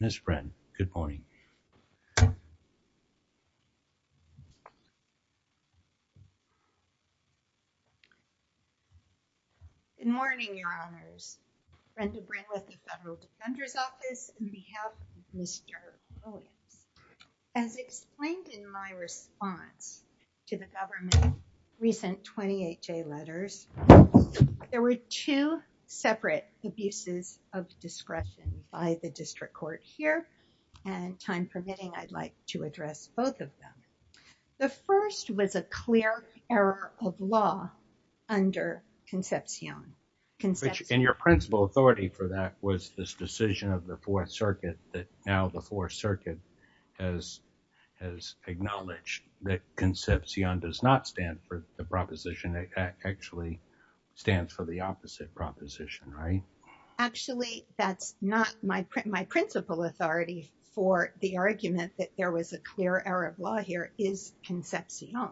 Ms. Brin, good morning. Good morning, your honors. Brenda Brin with the Federal Defender's Office on behalf of Mr. Holmes. As explained in my response to the government recent 28-J letters, there were two separate abuses of discretion by the district court here. And time permitting, I'd like to address both of them. The first was a clear error of law under Concepcion. And your principal authority for that was this decision of the Fourth Circuit that now the Fourth Circuit has acknowledged that Concepcion does not stand for the proposition. It actually stands for the opposite proposition, right? Actually, that's not my principal authority for the argument that there was a clear error of law here is Concepcion,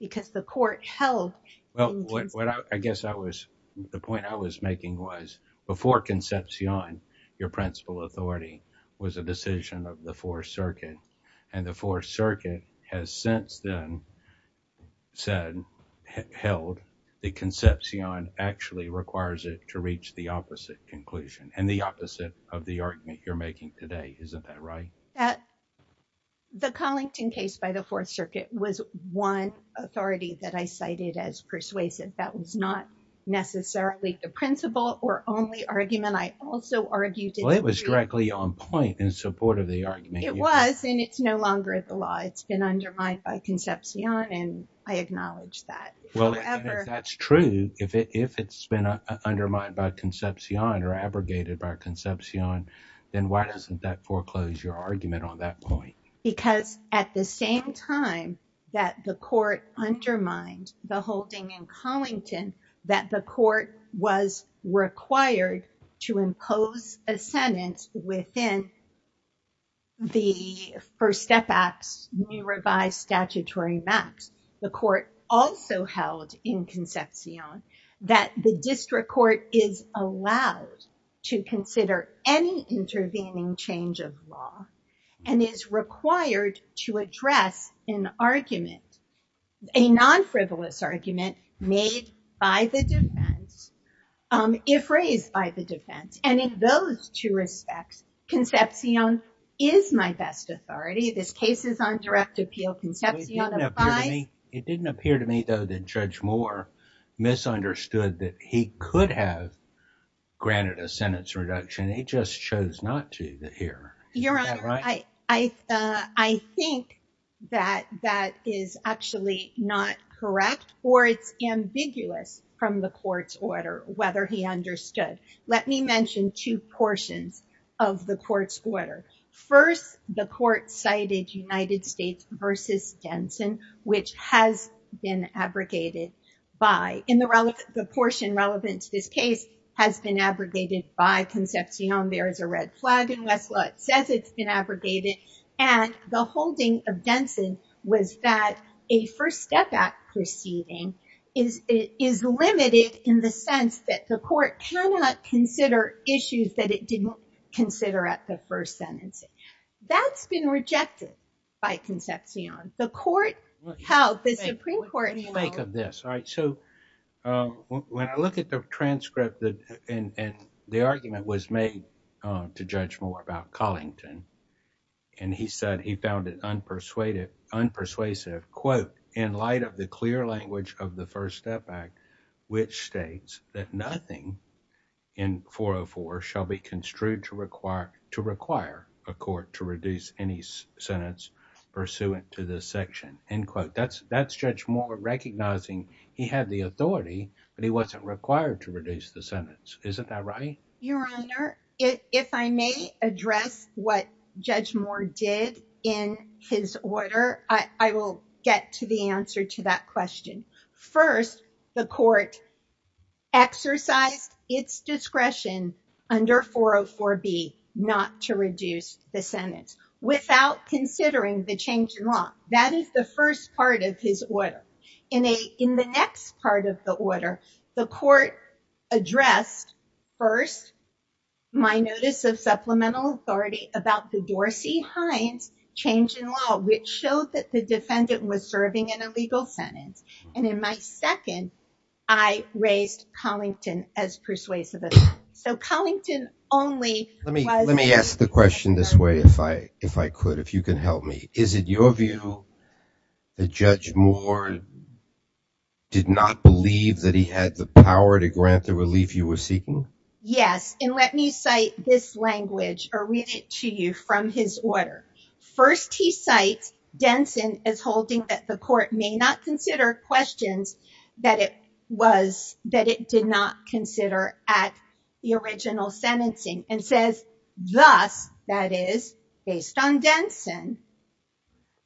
because the court held- Well, I guess the point I was making was before Concepcion, your principal authority was a decision of the Fourth Circuit. And the Fourth Circuit has since then said, held, that Concepcion actually requires it to reach the opposite conclusion and the opposite of the argument you're making today. Isn't that right? The Collington case by the Fourth Circuit was one authority that I cited as persuasive. That was not necessarily the principal or only argument. I also argued- Well, it was directly on point in support of the argument. It was, and it's no longer the law. It's been undermined by Concepcion, and I acknowledge that. Well, and if that's true, if it's been undermined by Concepcion or abrogated by Concepcion, then why doesn't that foreclose your argument on that point? Because at the same time that the court undermined the holding in Collington, that the court was required to impose a sentence within the First Step Act's new revised statutory max. The court also held in Concepcion that the district court is allowed to consider any intervening change of law and is required to address an argument, a non-frivolous argument made by the defense, if raised by the defense. And in those two respects, Concepcion is my best authority. This case is on direct appeal. Concepcion applies. It didn't appear to me though that Judge Moore misunderstood that he could have granted a sentence reduction. He just chose not to here. Your Honor, I think that that is actually not correct or it's ambiguous from the court's order, whether he understood. Let me mention two portions of the court's order. First, the court cited United States versus Denson, which has been abrogated by, in the portion relevant to this case, has been abrogated by Concepcion. There is a red flag in Westlaw. It says it's been abrogated. And the holding of Denson was that a First Step Act proceeding is limited in the sense that the court cannot consider issues that it didn't consider at the first sentence. That's been rejected by Concepcion. The court held, the Supreme Court, you know. What do you make of this? All right, so when I look at the transcript and the argument was made to Judge Moore about Collington, and he said he found it unpersuasive, quote, in light of the clear language of the First Step Act, which states that nothing in 404 shall be construed to require a court to reduce any sentence pursuant to this section, end quote. That's Judge Moore recognizing he had the authority, but he wasn't required to reduce the sentence. Isn't that right? Your Honor, if I may address what Judge Moore did in his order, I will get to the answer to that question. First, the court exercised its discretion under 404B not to reduce the sentence without considering the change in law. That is the first part of his order. In the next part of the order, the court addressed, first, my notice of supplemental authority about the Dorsey-Hines change in law, which showed that the defendant was serving an illegal sentence. And in my second, I raised Collington as persuasive. So Collington only was- Let me ask the question this way, if I could, if you can help me. Is it your view that Judge Moore did not believe that he had the power to grant the relief you were seeking? Yes, and let me cite this language or read it to you from his order. First, he cites Denson as holding that the court may not consider questions that it did not consider at the original sentencing and says, thus, that is based on Denson,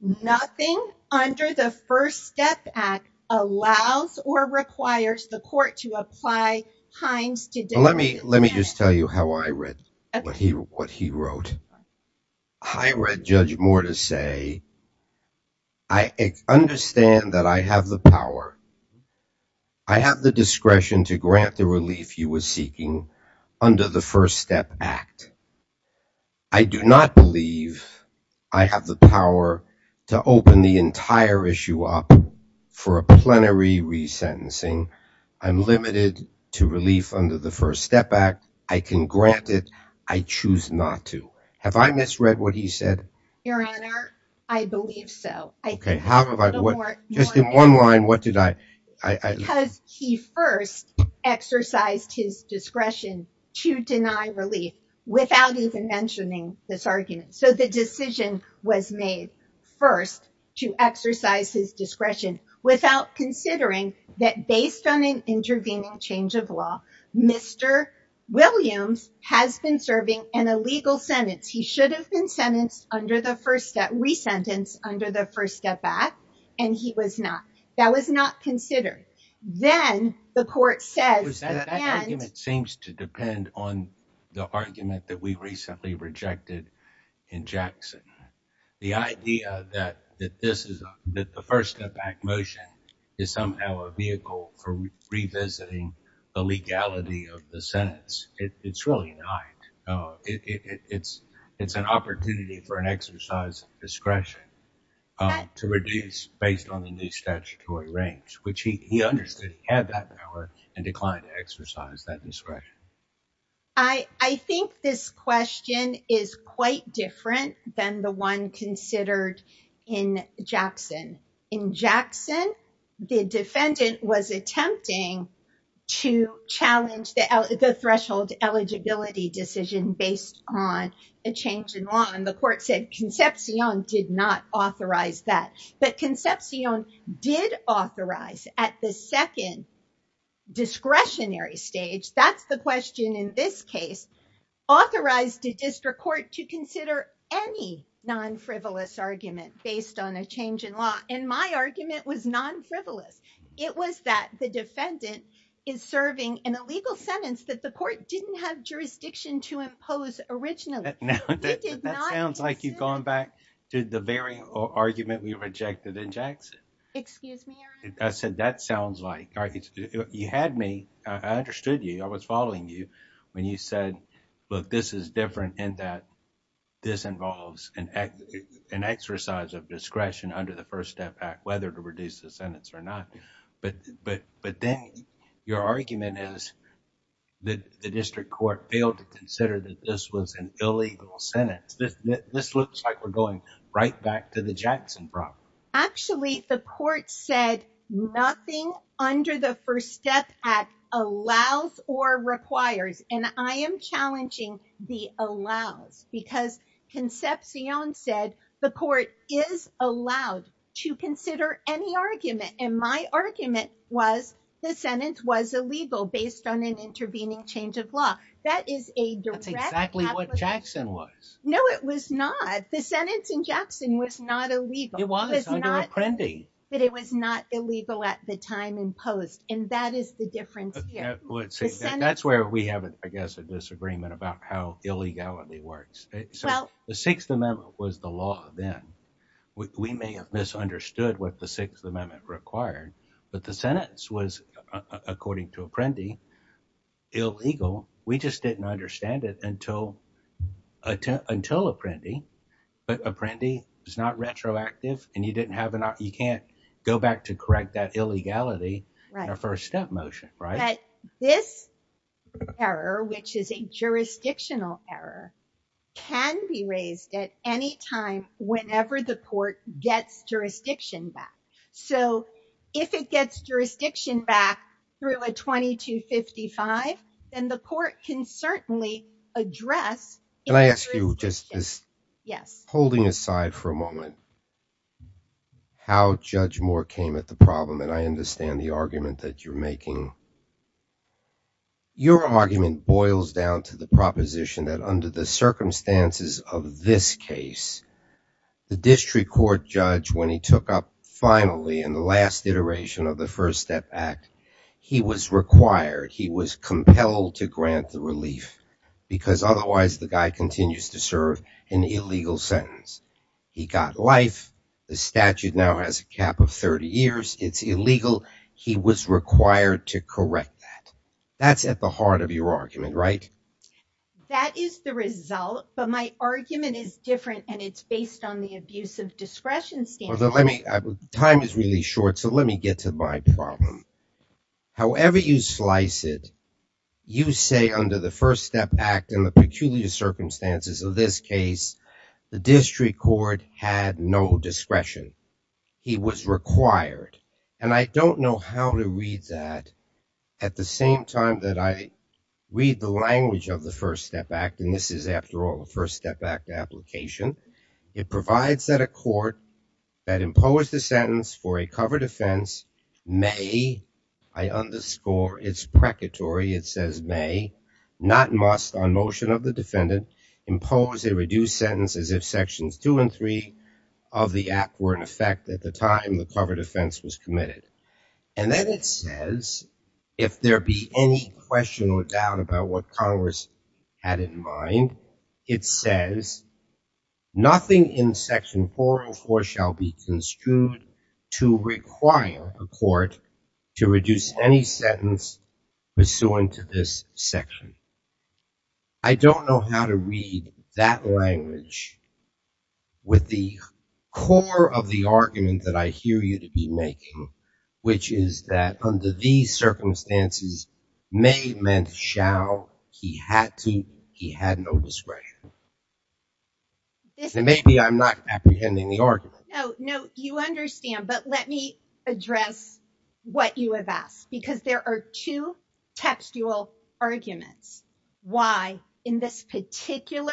nothing under the First Step Act allows or requires the court to apply Hines to- Let me just tell you how I read what he wrote. I read Judge Moore to say, I understand that I have the power. I have the discretion to grant the relief you were seeking under the First Step Act. I do not believe I have the power to open the entire issue up for a plenary resentencing. I'm limited to relief under the First Step Act. I can grant it, I choose not to. Have I misread what he said? Your Honor, I believe so. Okay, how have I? Just in one line, what did I? Because he first exercised his discretion to deny relief without even mentioning this argument. So the decision was made first to exercise his discretion without considering that based on an intervening change of law, Mr. Williams has been serving an illegal sentence. He should have been sentenced under the First Step, resentenced under the First Step Act, and he was not. That was not considered. Then the court says- That argument seems to depend on the argument that we recently rejected in Jackson. The idea that the First Step Act motion is somehow a vehicle for revisiting the legality of the sentence, it's really not. It's an opportunity for an exercise of discretion to reduce based on the new statutory range, which he understood he had that power and declined to exercise that discretion. I think this question is quite different than the one considered in Jackson. In Jackson, the defendant was attempting to challenge the threshold eligibility decision based on a change in law, and the court said Concepcion did not authorize that. But Concepcion did authorize at the second discretionary stage, that's the question in this case, authorized a district court to consider any non-frivolous argument based on a change in law. And my argument was non-frivolous. It was that the defendant is serving an illegal sentence that the court didn't have jurisdiction to impose originally. Now, that sounds like you've gone back to the very argument we rejected in Jackson. Excuse me, Your Honor. I said, that sounds like, you had me, I understood you, I was following you when you said, look, this is different in that this involves an exercise of discretion under the First Step Act, whether to reduce the sentence or not. But then your argument is that the district court failed to consider that this was an illegal sentence. This looks like we're going right back to the Jackson problem. Actually, the court said nothing under the First Step Act allows or requires, and I am challenging the allows because Concepcion said the court is allowed to consider any argument. And my argument was the sentence was illegal based on an intervening change of law. That is a direct- That's exactly what Jackson was. No, it was not. The sentence in Jackson was not illegal. It was, under Apprendi. But it was not illegal at the time imposed. And that is the difference here. Let's see, that's where we have, I guess, a disagreement about how illegality works. So the Sixth Amendment was the law then. We may have misunderstood what the Sixth Amendment required, but the sentence was, according to Apprendi, illegal. We just didn't understand it until Apprendi. But Apprendi was not retroactive, and you can't go back to correct that illegality in a First Step motion, right? This error, which is a jurisdictional error, can be raised at any time whenever the court gets jurisdiction back. So if it gets jurisdiction back through a 2255, then the court can certainly address- Can I ask you just this? Yes. Holding aside for a moment, how Judge Moore came at the problem, and I understand the argument that you're making, your argument boils down to the proposition that under the circumstances of this case, the district court judge, when he took up finally, in the last iteration of the First Step Act, he was required, he was compelled to grant the relief because otherwise the guy continues to serve an illegal sentence. He got life, the statute now has a cap of 30 years, it's illegal, he was required to correct that. That's at the heart of your argument, right? That is the result, but my argument is different and it's based on the abuse of discretion standard. Time is really short, so let me get to my problem. However you slice it, you say under the First Step Act and the peculiar circumstances of this case, the district court had no discretion. He was required. And I don't know how to read that at the same time that I read the language of the First Step Act, and this is after all a First Step Act application. It provides that a court that imposed a sentence for a covered offense may, I underscore, it's precatory, it says may, not must on motion of the defendant, impose a reduced sentence as if sections two and three of the act were in effect at the time the covered offense was committed. And then it says if there be any question or doubt about what Congress had in mind, it says nothing in section 404 shall be construed to require a court to reduce any sentence pursuant to this section. I don't know how to read that language with the core of the argument that I hear you to be making, which is that under these circumstances, may meant shall, he had to, he had no discretion. Maybe I'm not apprehending the argument. No, you understand, but let me address what you have asked because there are two textual arguments. Why? In this particular,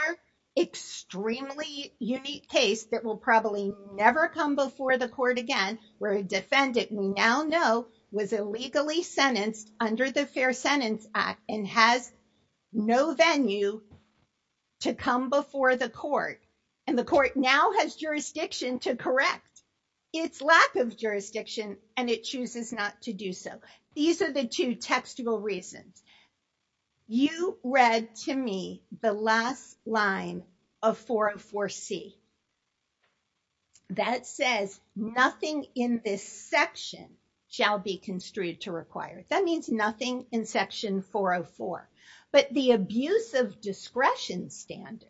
extremely unique case that will probably never come before the court again, where a defendant we now know was illegally sentenced under the Fair Sentence Act and has no venue to come before the court. And the court now has jurisdiction to correct its lack of jurisdiction and it chooses not to do so. These are the two textual reasons. You read to me the last line of 404C that says nothing in this section shall be construed to require. That means nothing in section 404, but the abuse of discretion standard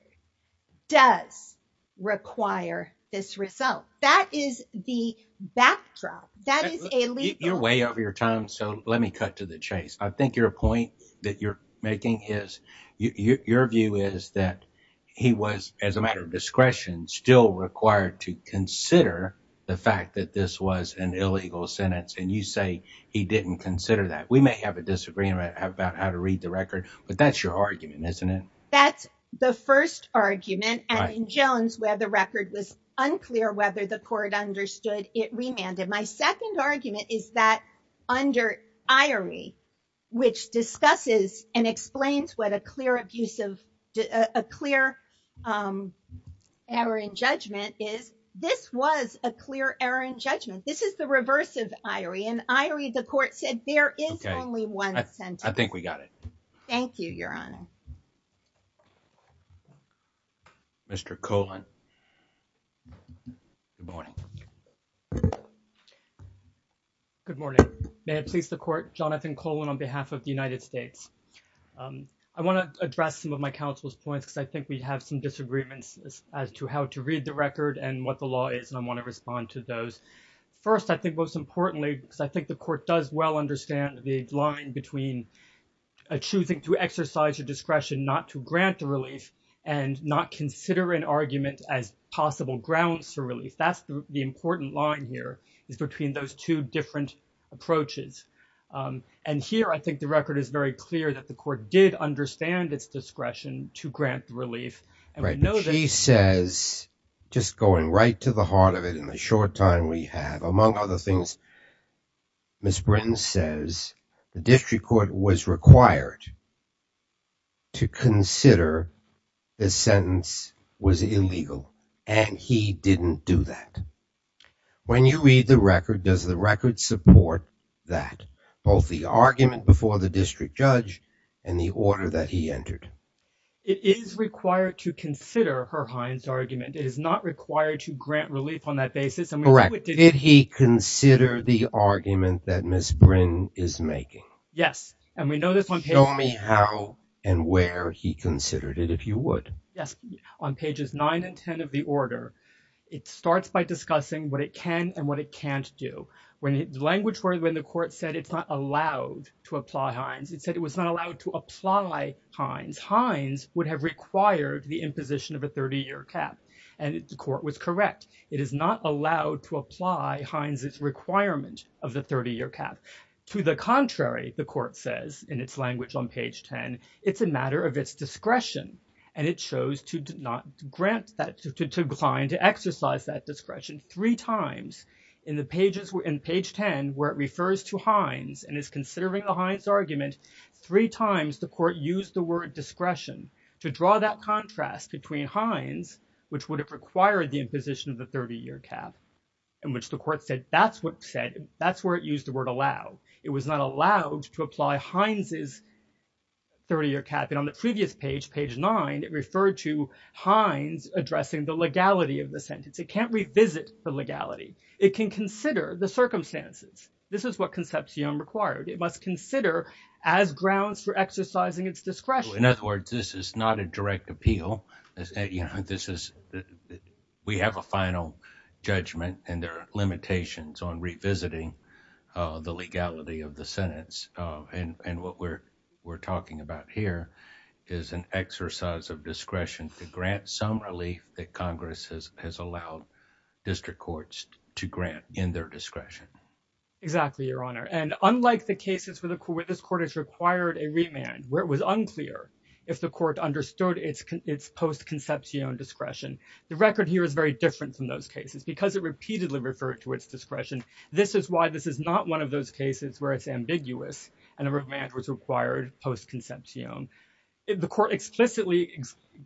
does require this result. That is the backdrop. That is a legal- You're way over your time, so let me cut to the chase. I think your point that you're making is, your view is that he was, as a matter of discretion, still required to consider the fact that this was an illegal sentence, and you say he didn't consider that. We may have a disagreement about how to read the record, but that's your argument, isn't it? That's the first argument, and in Jones, where the record was unclear whether the court understood, it remanded. My second argument is that under Irie, which discusses and explains what a clear abuse of, a clear error in judgment is, this was a clear error in judgment. This is the reverse of Irie, and Irie, the court said, there is only one sentence. I think we got it. Thank you, Your Honor. Mr. Colan. Good morning. May it please the court, Jonathan Colan, on behalf of the United States. I want to address some of my counsel's points, because I think we have some disagreements as to how to read the record and what the law is, and I want to respond to those. First, I think most importantly, because I think the court does well understand the line between choosing to exercise your discretion not to grant the relief, and not consider an argument as possible grounds for relief. That's the important line here, is between those two different approaches. And here, I think the record is very clear that the court did understand its discretion to grant relief. And we know that- She says, just going right to the heart of it in the short time we have, among other things, Ms. Britton says, the district court was required to consider this sentence was illegal, and he didn't do that. When you read the record, does the record support that? Both the argument before the district judge, and the order that he entered? It is required to consider Herhine's argument. It is not required to grant relief on that basis, and we know it didn't- Correct, did he consider the argument that Ms. Brynn is making? Yes, and we know this on page- Show me how and where he considered it, if you would. Yes, on pages nine and 10 of the order. It starts by discussing what it can and what it can't do. When the language where the court said it's not allowed to apply Hines, it said it was not allowed to apply Hines. Hines would have required the imposition of a 30-year cap, and the court was correct. It is not allowed to apply Hines's requirement of the 30-year cap. To the contrary, the court says in its language on page 10, it's a matter of its discretion, and it chose to not grant that, to decline to exercise that discretion three times. In the pages, in page 10, where it refers to Hines and is considering the Hines argument, three times the court used the word discretion to draw that contrast between Hines, which would have required the imposition of a 30-year cap, in which the court said that's what said, that's where it used the word allow. It was not allowed to apply Hines's 30-year cap. And on the previous page, page nine, it referred to Hines addressing the legality of the sentence. It can't revisit the legality. It can consider the circumstances. This is what Concepcion required. It must consider as grounds for exercising its discretion. In other words, this is not a direct appeal. We have a final judgment, and there are limitations on revisiting the legality of the sentence. And what we're talking about here is an exercise of discretion to grant some relief that Congress has allowed district courts to grant in their discretion. Exactly, Your Honor. And unlike the cases where this court has required a remand, where it was unclear if the court understood its post-Concepcion discretion, the record here is very different from those cases because it repeatedly referred to its discretion. This is why this is not one of those cases where it's ambiguous and a remand was required post-Concepcion. The court explicitly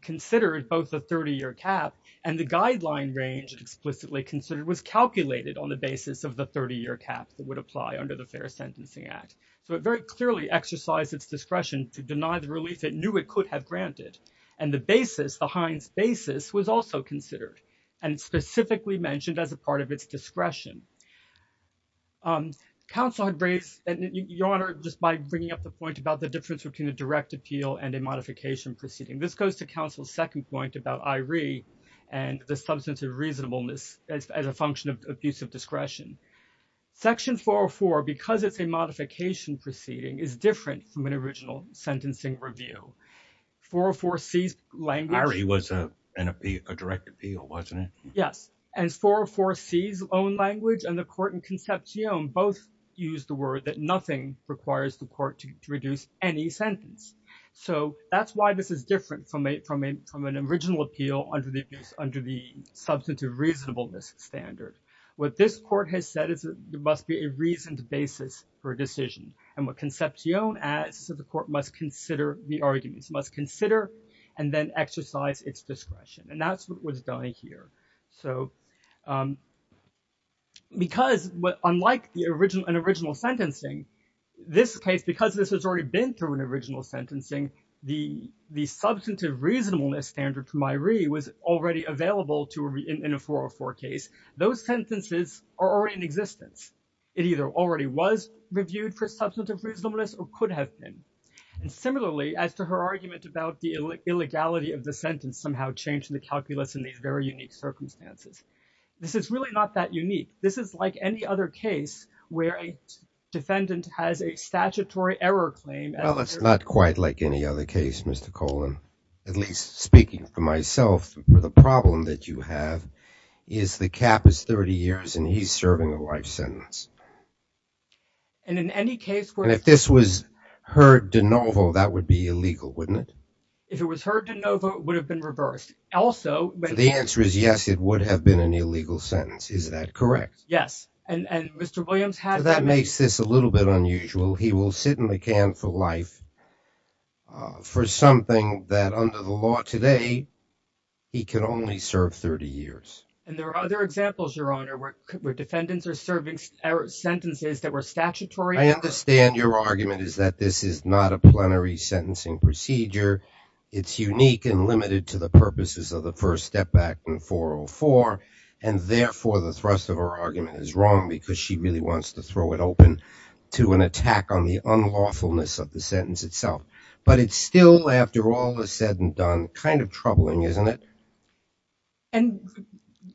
considered both the 30-year cap and the guideline range explicitly considered was calculated on the basis of the 30-year cap that would apply under the Fair Sentencing Act. So it very clearly exercised its discretion to deny the relief it knew it could have granted. And the basis, the Hines basis, was also considered and specifically mentioned as a part of its discretion. Counsel had raised, Your Honor, just by bringing up the point about the difference between a direct appeal and a modification proceeding. This goes to counsel's second point about I.R.E. and the substance of reasonableness as a function of abuse of discretion. Section 404, because it's a modification proceeding, is different from an original sentencing review. 404C's language- I.R.E. was a direct appeal, wasn't it? Yes, and 404C's own language and the court in Concepcion both used the word that nothing requires the court to reduce any sentence. So that's why this is different from an original appeal under the substance of reasonableness standard. What this court has said is there must be a reasoned basis for a decision. And what Concepcion adds is that the court must consider the arguments, must consider and then exercise its discretion. And that's what was done here. So because unlike an original sentencing, this case, because this has already been through an original sentencing, the substance of reasonableness standard from I.R.E. was already available in a 404 case, those sentences are already in existence. It either already was reviewed for substance of reasonableness or could have been. And similarly, as to her argument about the illegality of the sentence has somehow changed the calculus in these very unique circumstances. This is really not that unique. This is like any other case where a defendant has a statutory error claim. Well, it's not quite like any other case, Mr. Colan. At least speaking for myself, the problem that you have is the cap is 30 years and he's serving a life sentence. And in any case where- And if this was heard de novo, that would be illegal, wouldn't it? If it was heard de novo, it would have been reversed. Also- So the answer is yes, it would have been an illegal sentence. Is that correct? Yes. And Mr. Williams had- So that makes this a little bit unusual. He will sit in the can for life for something that under the law today, he can only serve 30 years. And there are other examples, Your Honor, where defendants are serving sentences that were statutory- I understand your argument is that this is not a plenary sentencing procedure. It's unique and limited to the purposes of the First Step Act in 404. And therefore the thrust of our argument is wrong because she really wants to throw it open to an attack on the unlawfulness of the sentence itself. But it's still, after all is said and done, kind of troubling, isn't it? And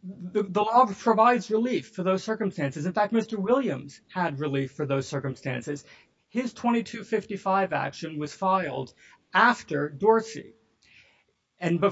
the law provides relief for those circumstances. In fact, Mr. Williams had relief for those circumstances. His 2255 action was filed after Dorsey. And the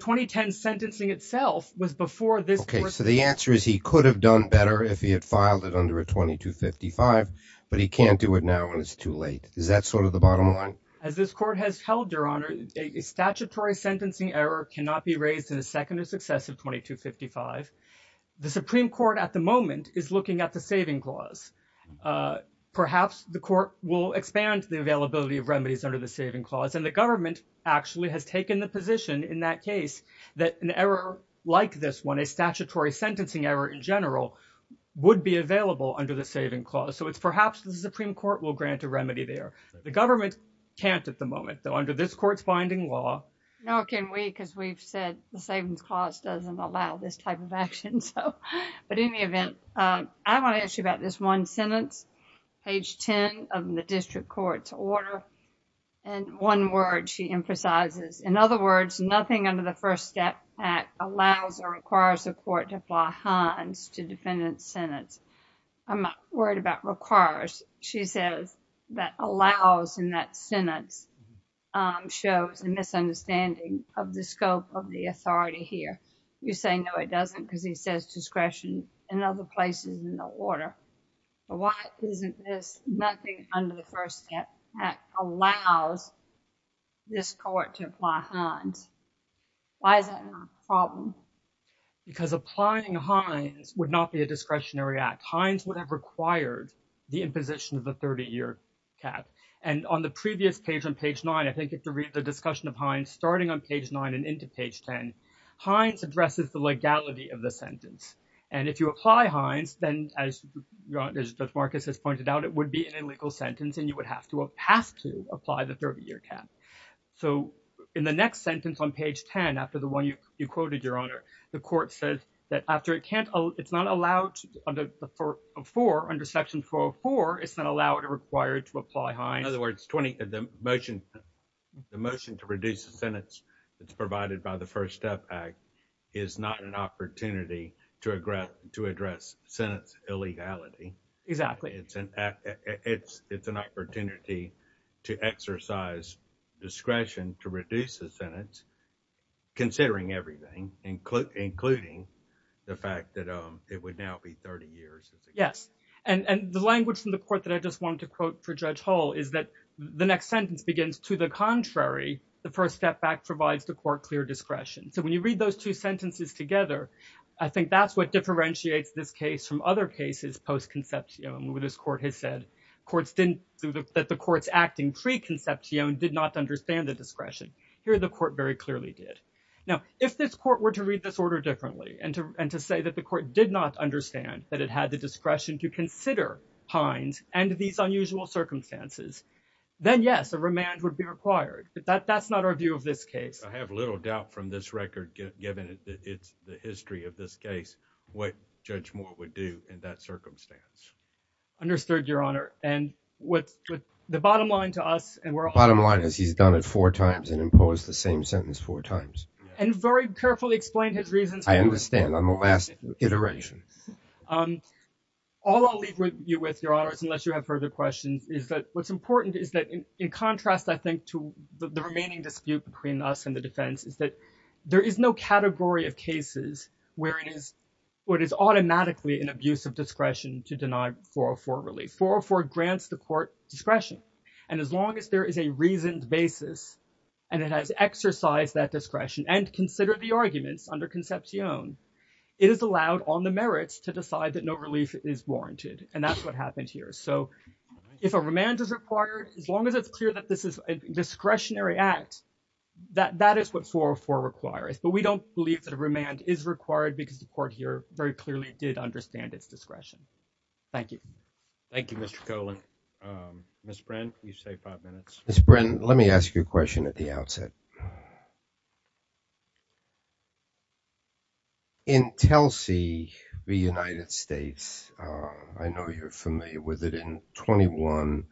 2010 sentencing itself was before this- Okay, so the answer is he could have done better if he had filed it under a 2255, but he can't do it now and it's too late. Is that sort of the bottom line? As this court has held, Your Honor, a statutory sentencing error cannot be raised in a second or successive 2255. The Supreme Court at the moment is looking at the saving clause. Perhaps the court will expand the availability of remedies under the saving clause. And the government actually has taken the position in that case that an error like this one, a statutory sentencing error in general would be available under the saving clause. So it's perhaps the Supreme Court will grant a remedy there. The government can't at the moment, though under this court's binding law. Nor can we, because we've said the savings clause doesn't allow this type of action. But in the event, I want to ask you about this one, defendant's sentence, page 10 of the district court's order. And one word she emphasizes, in other words, nothing under the First Step Act allows or requires the court to apply Hines to defendant's sentence. I'm not worried about requires. She says that allows in that sentence shows a misunderstanding of the scope of the authority here. You say, no, it doesn't, because he says discretion in other places in the order. Isn't this nothing under the First Step Act allows this court to apply Hines? Why is that a problem? Because applying Hines would not be a discretionary act. Hines would have required the imposition of the 30-year cap. And on the previous page on page nine, I think if you read the discussion of Hines, starting on page nine and into page 10, Hines addresses the legality of the sentence. And if you apply Hines, then as Judge Marcus has pointed out, it would be an illegal sentence and you would have to apply the 30-year cap. So in the next sentence on page 10, after the one you quoted, Your Honor, the court says that after it can't, it's not allowed under section 404, it's not allowed or required to apply Hines. In other words, the motion to reduce the sentence that's provided by the First Step Act is not an opportunity to address sentence illegality. Exactly. It's an opportunity to exercise discretion to reduce the sentence, considering everything, including the fact that it would now be 30 years. Yes. And the language from the court that I just wanted to quote for Judge Hull is that the next sentence begins, to the contrary, the First Step Act provides the court clear discretion. So when you read those two sentences together, I think that's what differentiates this case from other cases post-conception, where this court has said that the court's acting pre-conception did not understand the discretion. Here, the court very clearly did. Now, if this court were to read this order differently and to say that the court did not understand that it had the discretion to consider Hines and these unusual circumstances, then yes, a remand would be required. But that's not our view of this case. I have little doubt from this record, given the history of this case, what Judge Moore would do in that circumstance. Understood, Your Honor. And with the bottom line to us, and we're all- Bottom line is he's done it four times and imposed the same sentence four times. And very carefully explained his reasons for it. I understand, on the last iteration. All I'll leave you with, Your Honors, unless you have further questions, is that what's important is that, in contrast, I think, to the remaining dispute between us and the defense, is that there is no category of cases where it is automatically an abuse of discretion to deny 404 relief. 404 grants the court discretion. And as long as there is a reasoned basis and it has exercised that discretion and considered the arguments under conception, it is allowed on the merits to decide that no relief is warranted. And that's what happened here. So if a remand is required, as long as it's clear that this is a discretionary act, that is what 404 requires. But we don't believe that a remand is required because the court here very clearly did understand its discretion. Thank you. Thank you, Mr. Cohen. Ms. Brin, you say five minutes. Ms. Brin, let me ask you a question at the outset. In Telsey v. United States, I know you're familiar with it, in Section 21,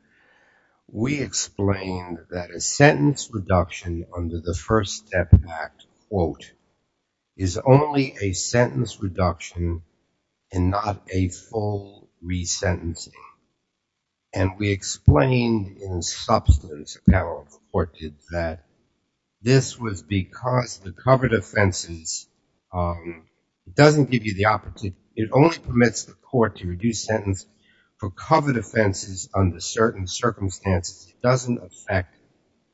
we explained that a sentence reduction under the First Step Act, quote, is only a sentence reduction and not a full resentencing. And we explained in substance, a panel of court did that, this was because the covered offenses, it doesn't give you the opportunity, it only permits the court to reduce sentence for covered offenses under certain circumstances. It doesn't affect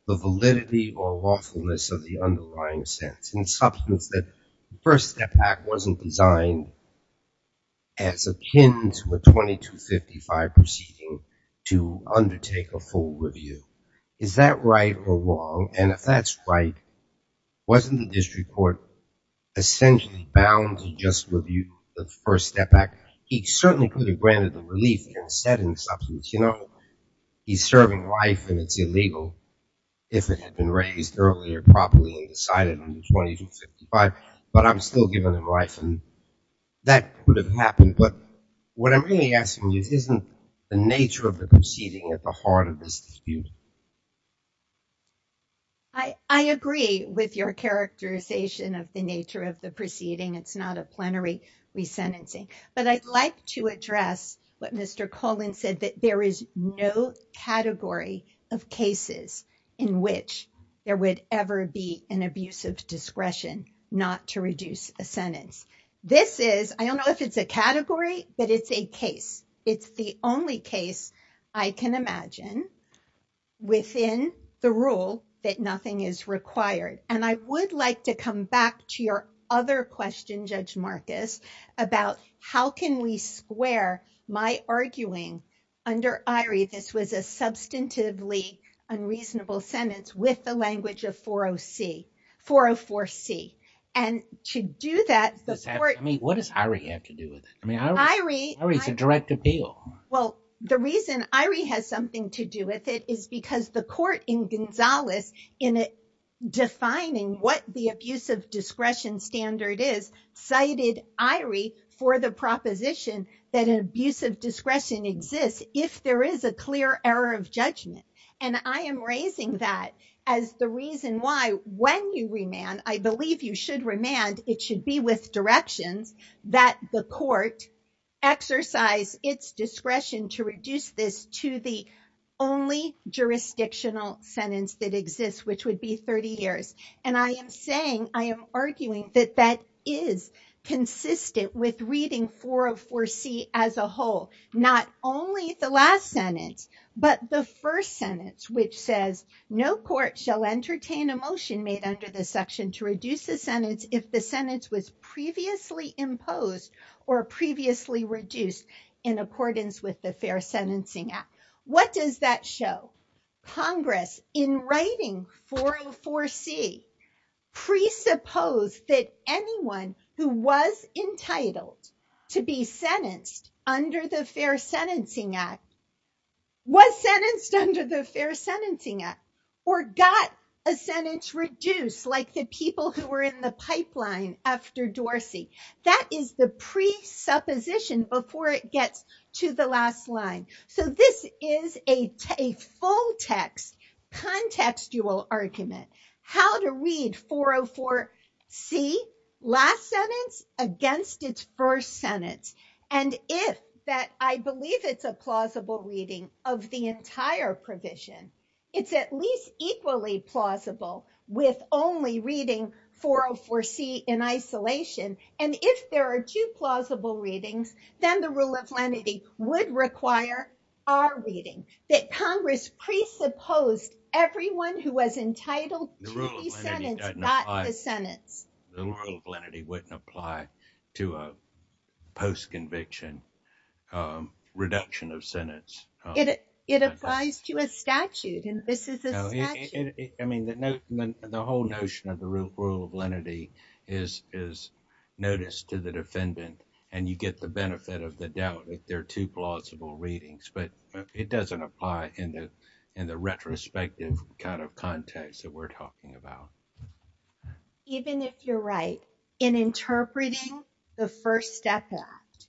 the validity or lawfulness of the underlying sentence. In substance, that First Step Act wasn't designed as akin to a 2255 proceeding to undertake a full review. Is that right or wrong? And if that's right, wasn't the district court essentially bound to just review the First Step Act? He certainly could have granted the relief and said in substance, you know, he's serving life and it's illegal if it had been raised earlier properly and decided under 2255, but I'm still giving him life and that would have happened. But what I'm really asking you, isn't the nature of the proceeding at the heart of this dispute? I agree with your characterization of the nature of the proceeding. It's not a plenary resentencing. But I'd like to address what Mr. Collin said, that there is no category of cases in which there would ever be an abusive discretion not to reduce a sentence. This is, I don't know if it's a category, but it's a case. It's the only case I can imagine within the rule that nothing is required. And I would like to come back to your other question, Judge Marcus, about how can we square my arguing under Irie? This was a substantively unreasonable sentence with the language of 404C. And to do that, the court- I mean, what does Irie have to do with it? I mean, Irie is a direct appeal. Well, the reason Irie has something to do with it is because the court in Gonzales in defining what the abusive discretion standard is cited Irie for the proposition that an abusive discretion exists if there is a clear error of judgment. And I am raising that as the reason why when you remand, I believe you should remand, it should be with directions that the court exercise its discretion to reduce this to the only jurisdictional sentence that exists, which would be 30 years. And I am saying, I am arguing that that is consistent with reading 404C as a whole, not only the last sentence, but the first sentence, which says no court shall entertain a motion made under this section to reduce the sentence if the sentence was previously imposed or previously reduced in accordance with the Fair Sentencing Act. What does that show? Congress in writing 404C presuppose that anyone who was entitled to be sentenced under the Fair Sentencing Act was sentenced under the Fair Sentencing Act or got a sentence reduced like the people who were in the pipeline after Dorsey. That is the presupposition before it gets to the last line. So this is a full text contextual argument, how to read 404C last sentence against its first sentence. And if that, I believe it's a plausible reading of the entire provision, it's at least equally plausible with only reading 404C in isolation. And if there are two plausible readings, then the rule of lenity would require our reading that Congress presupposed everyone who was entitled to be sentenced got the sentence. The rule of lenity wouldn't apply to a post-conviction reduction of sentence. It applies to a statute and this is a statute. I mean, the whole notion of the rule of lenity is notice to the defendant and you get the benefit of the doubt if there are two plausible readings, but it doesn't apply in the retrospective kind of context that we're talking about. Even if you're right in interpreting the First Step Act,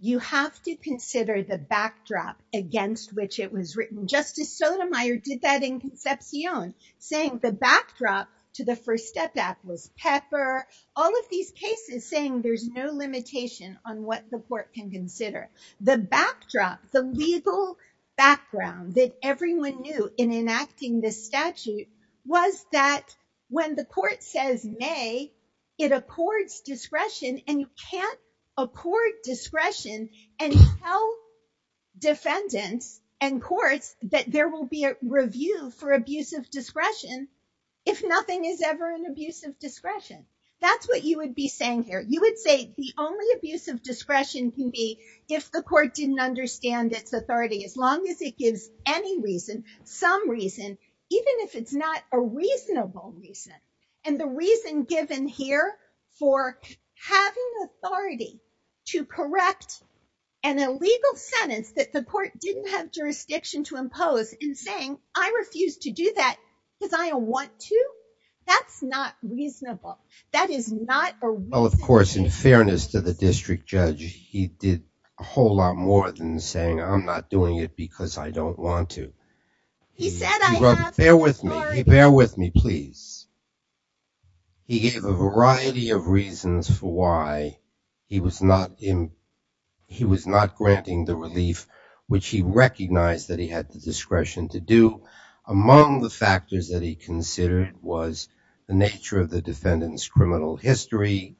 you have to consider the backdrop against which it was written. Justice Sotomayor did that in Concepcion saying the backdrop to the First Step Act was pepper. All of these cases saying there's no limitation on what the court can consider. The backdrop, the legal background that everyone knew in enacting this statute was that when the court says may, it abhors discretion and you can't abhor discretion and tell defendants and courts that there will be a review for abuse of discretion if nothing is ever an abuse of discretion. That's what you would be saying here. You would say the only abuse of discretion can be if the court didn't understand its authority as long as it gives any reason, some reason, even if it's not a reasonable reason and the reason given here for having authority to correct an illegal sentence that the court didn't have jurisdiction to impose and saying, I refuse to do that because I don't want to. That's not reasonable. That is not a reason. Well, of course, in fairness to the district judge, he did a whole lot more than saying, I'm not doing it because I don't want to. He said, I have authority. Bear with me, bear with me, please. He gave a variety of reasons for why he was not in, he was not granting the relief, which he recognized that he had the discretion to do. Among the factors that he considered was the nature of the defendant's criminal history.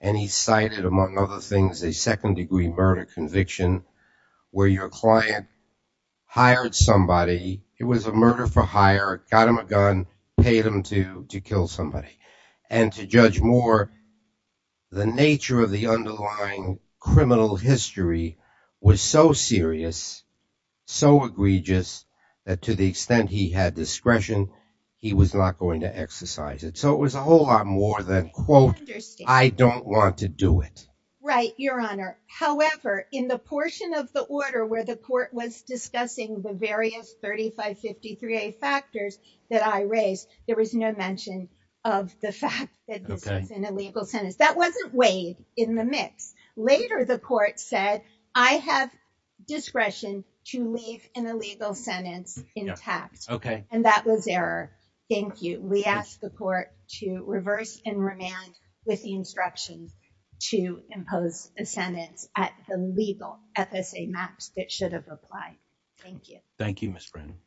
And he cited, among other things, a second degree murder conviction where your client hired somebody, it was a murder for hire, got him a gun, paid him to kill somebody. And to judge more, the nature of the underlying criminal history was so serious, so egregious, that to the extent he had discretion, he was not going to exercise it. So it was a whole lot more than, quote, I don't want to do it. Right, Your Honor. However, in the portion of the order where the court was discussing the various 3553A factors that I raised, there was no mention of the fact that this was an illegal sentence. That wasn't weighed in the mix. Later, the court said, I have discretion to leave an illegal sentence intact. And that was error. Thank you. We ask the court to reverse and remand with the instructions to impose a sentence at the legal FSA maps that should have applied. Thank you. Thank you, Ms. Brennan.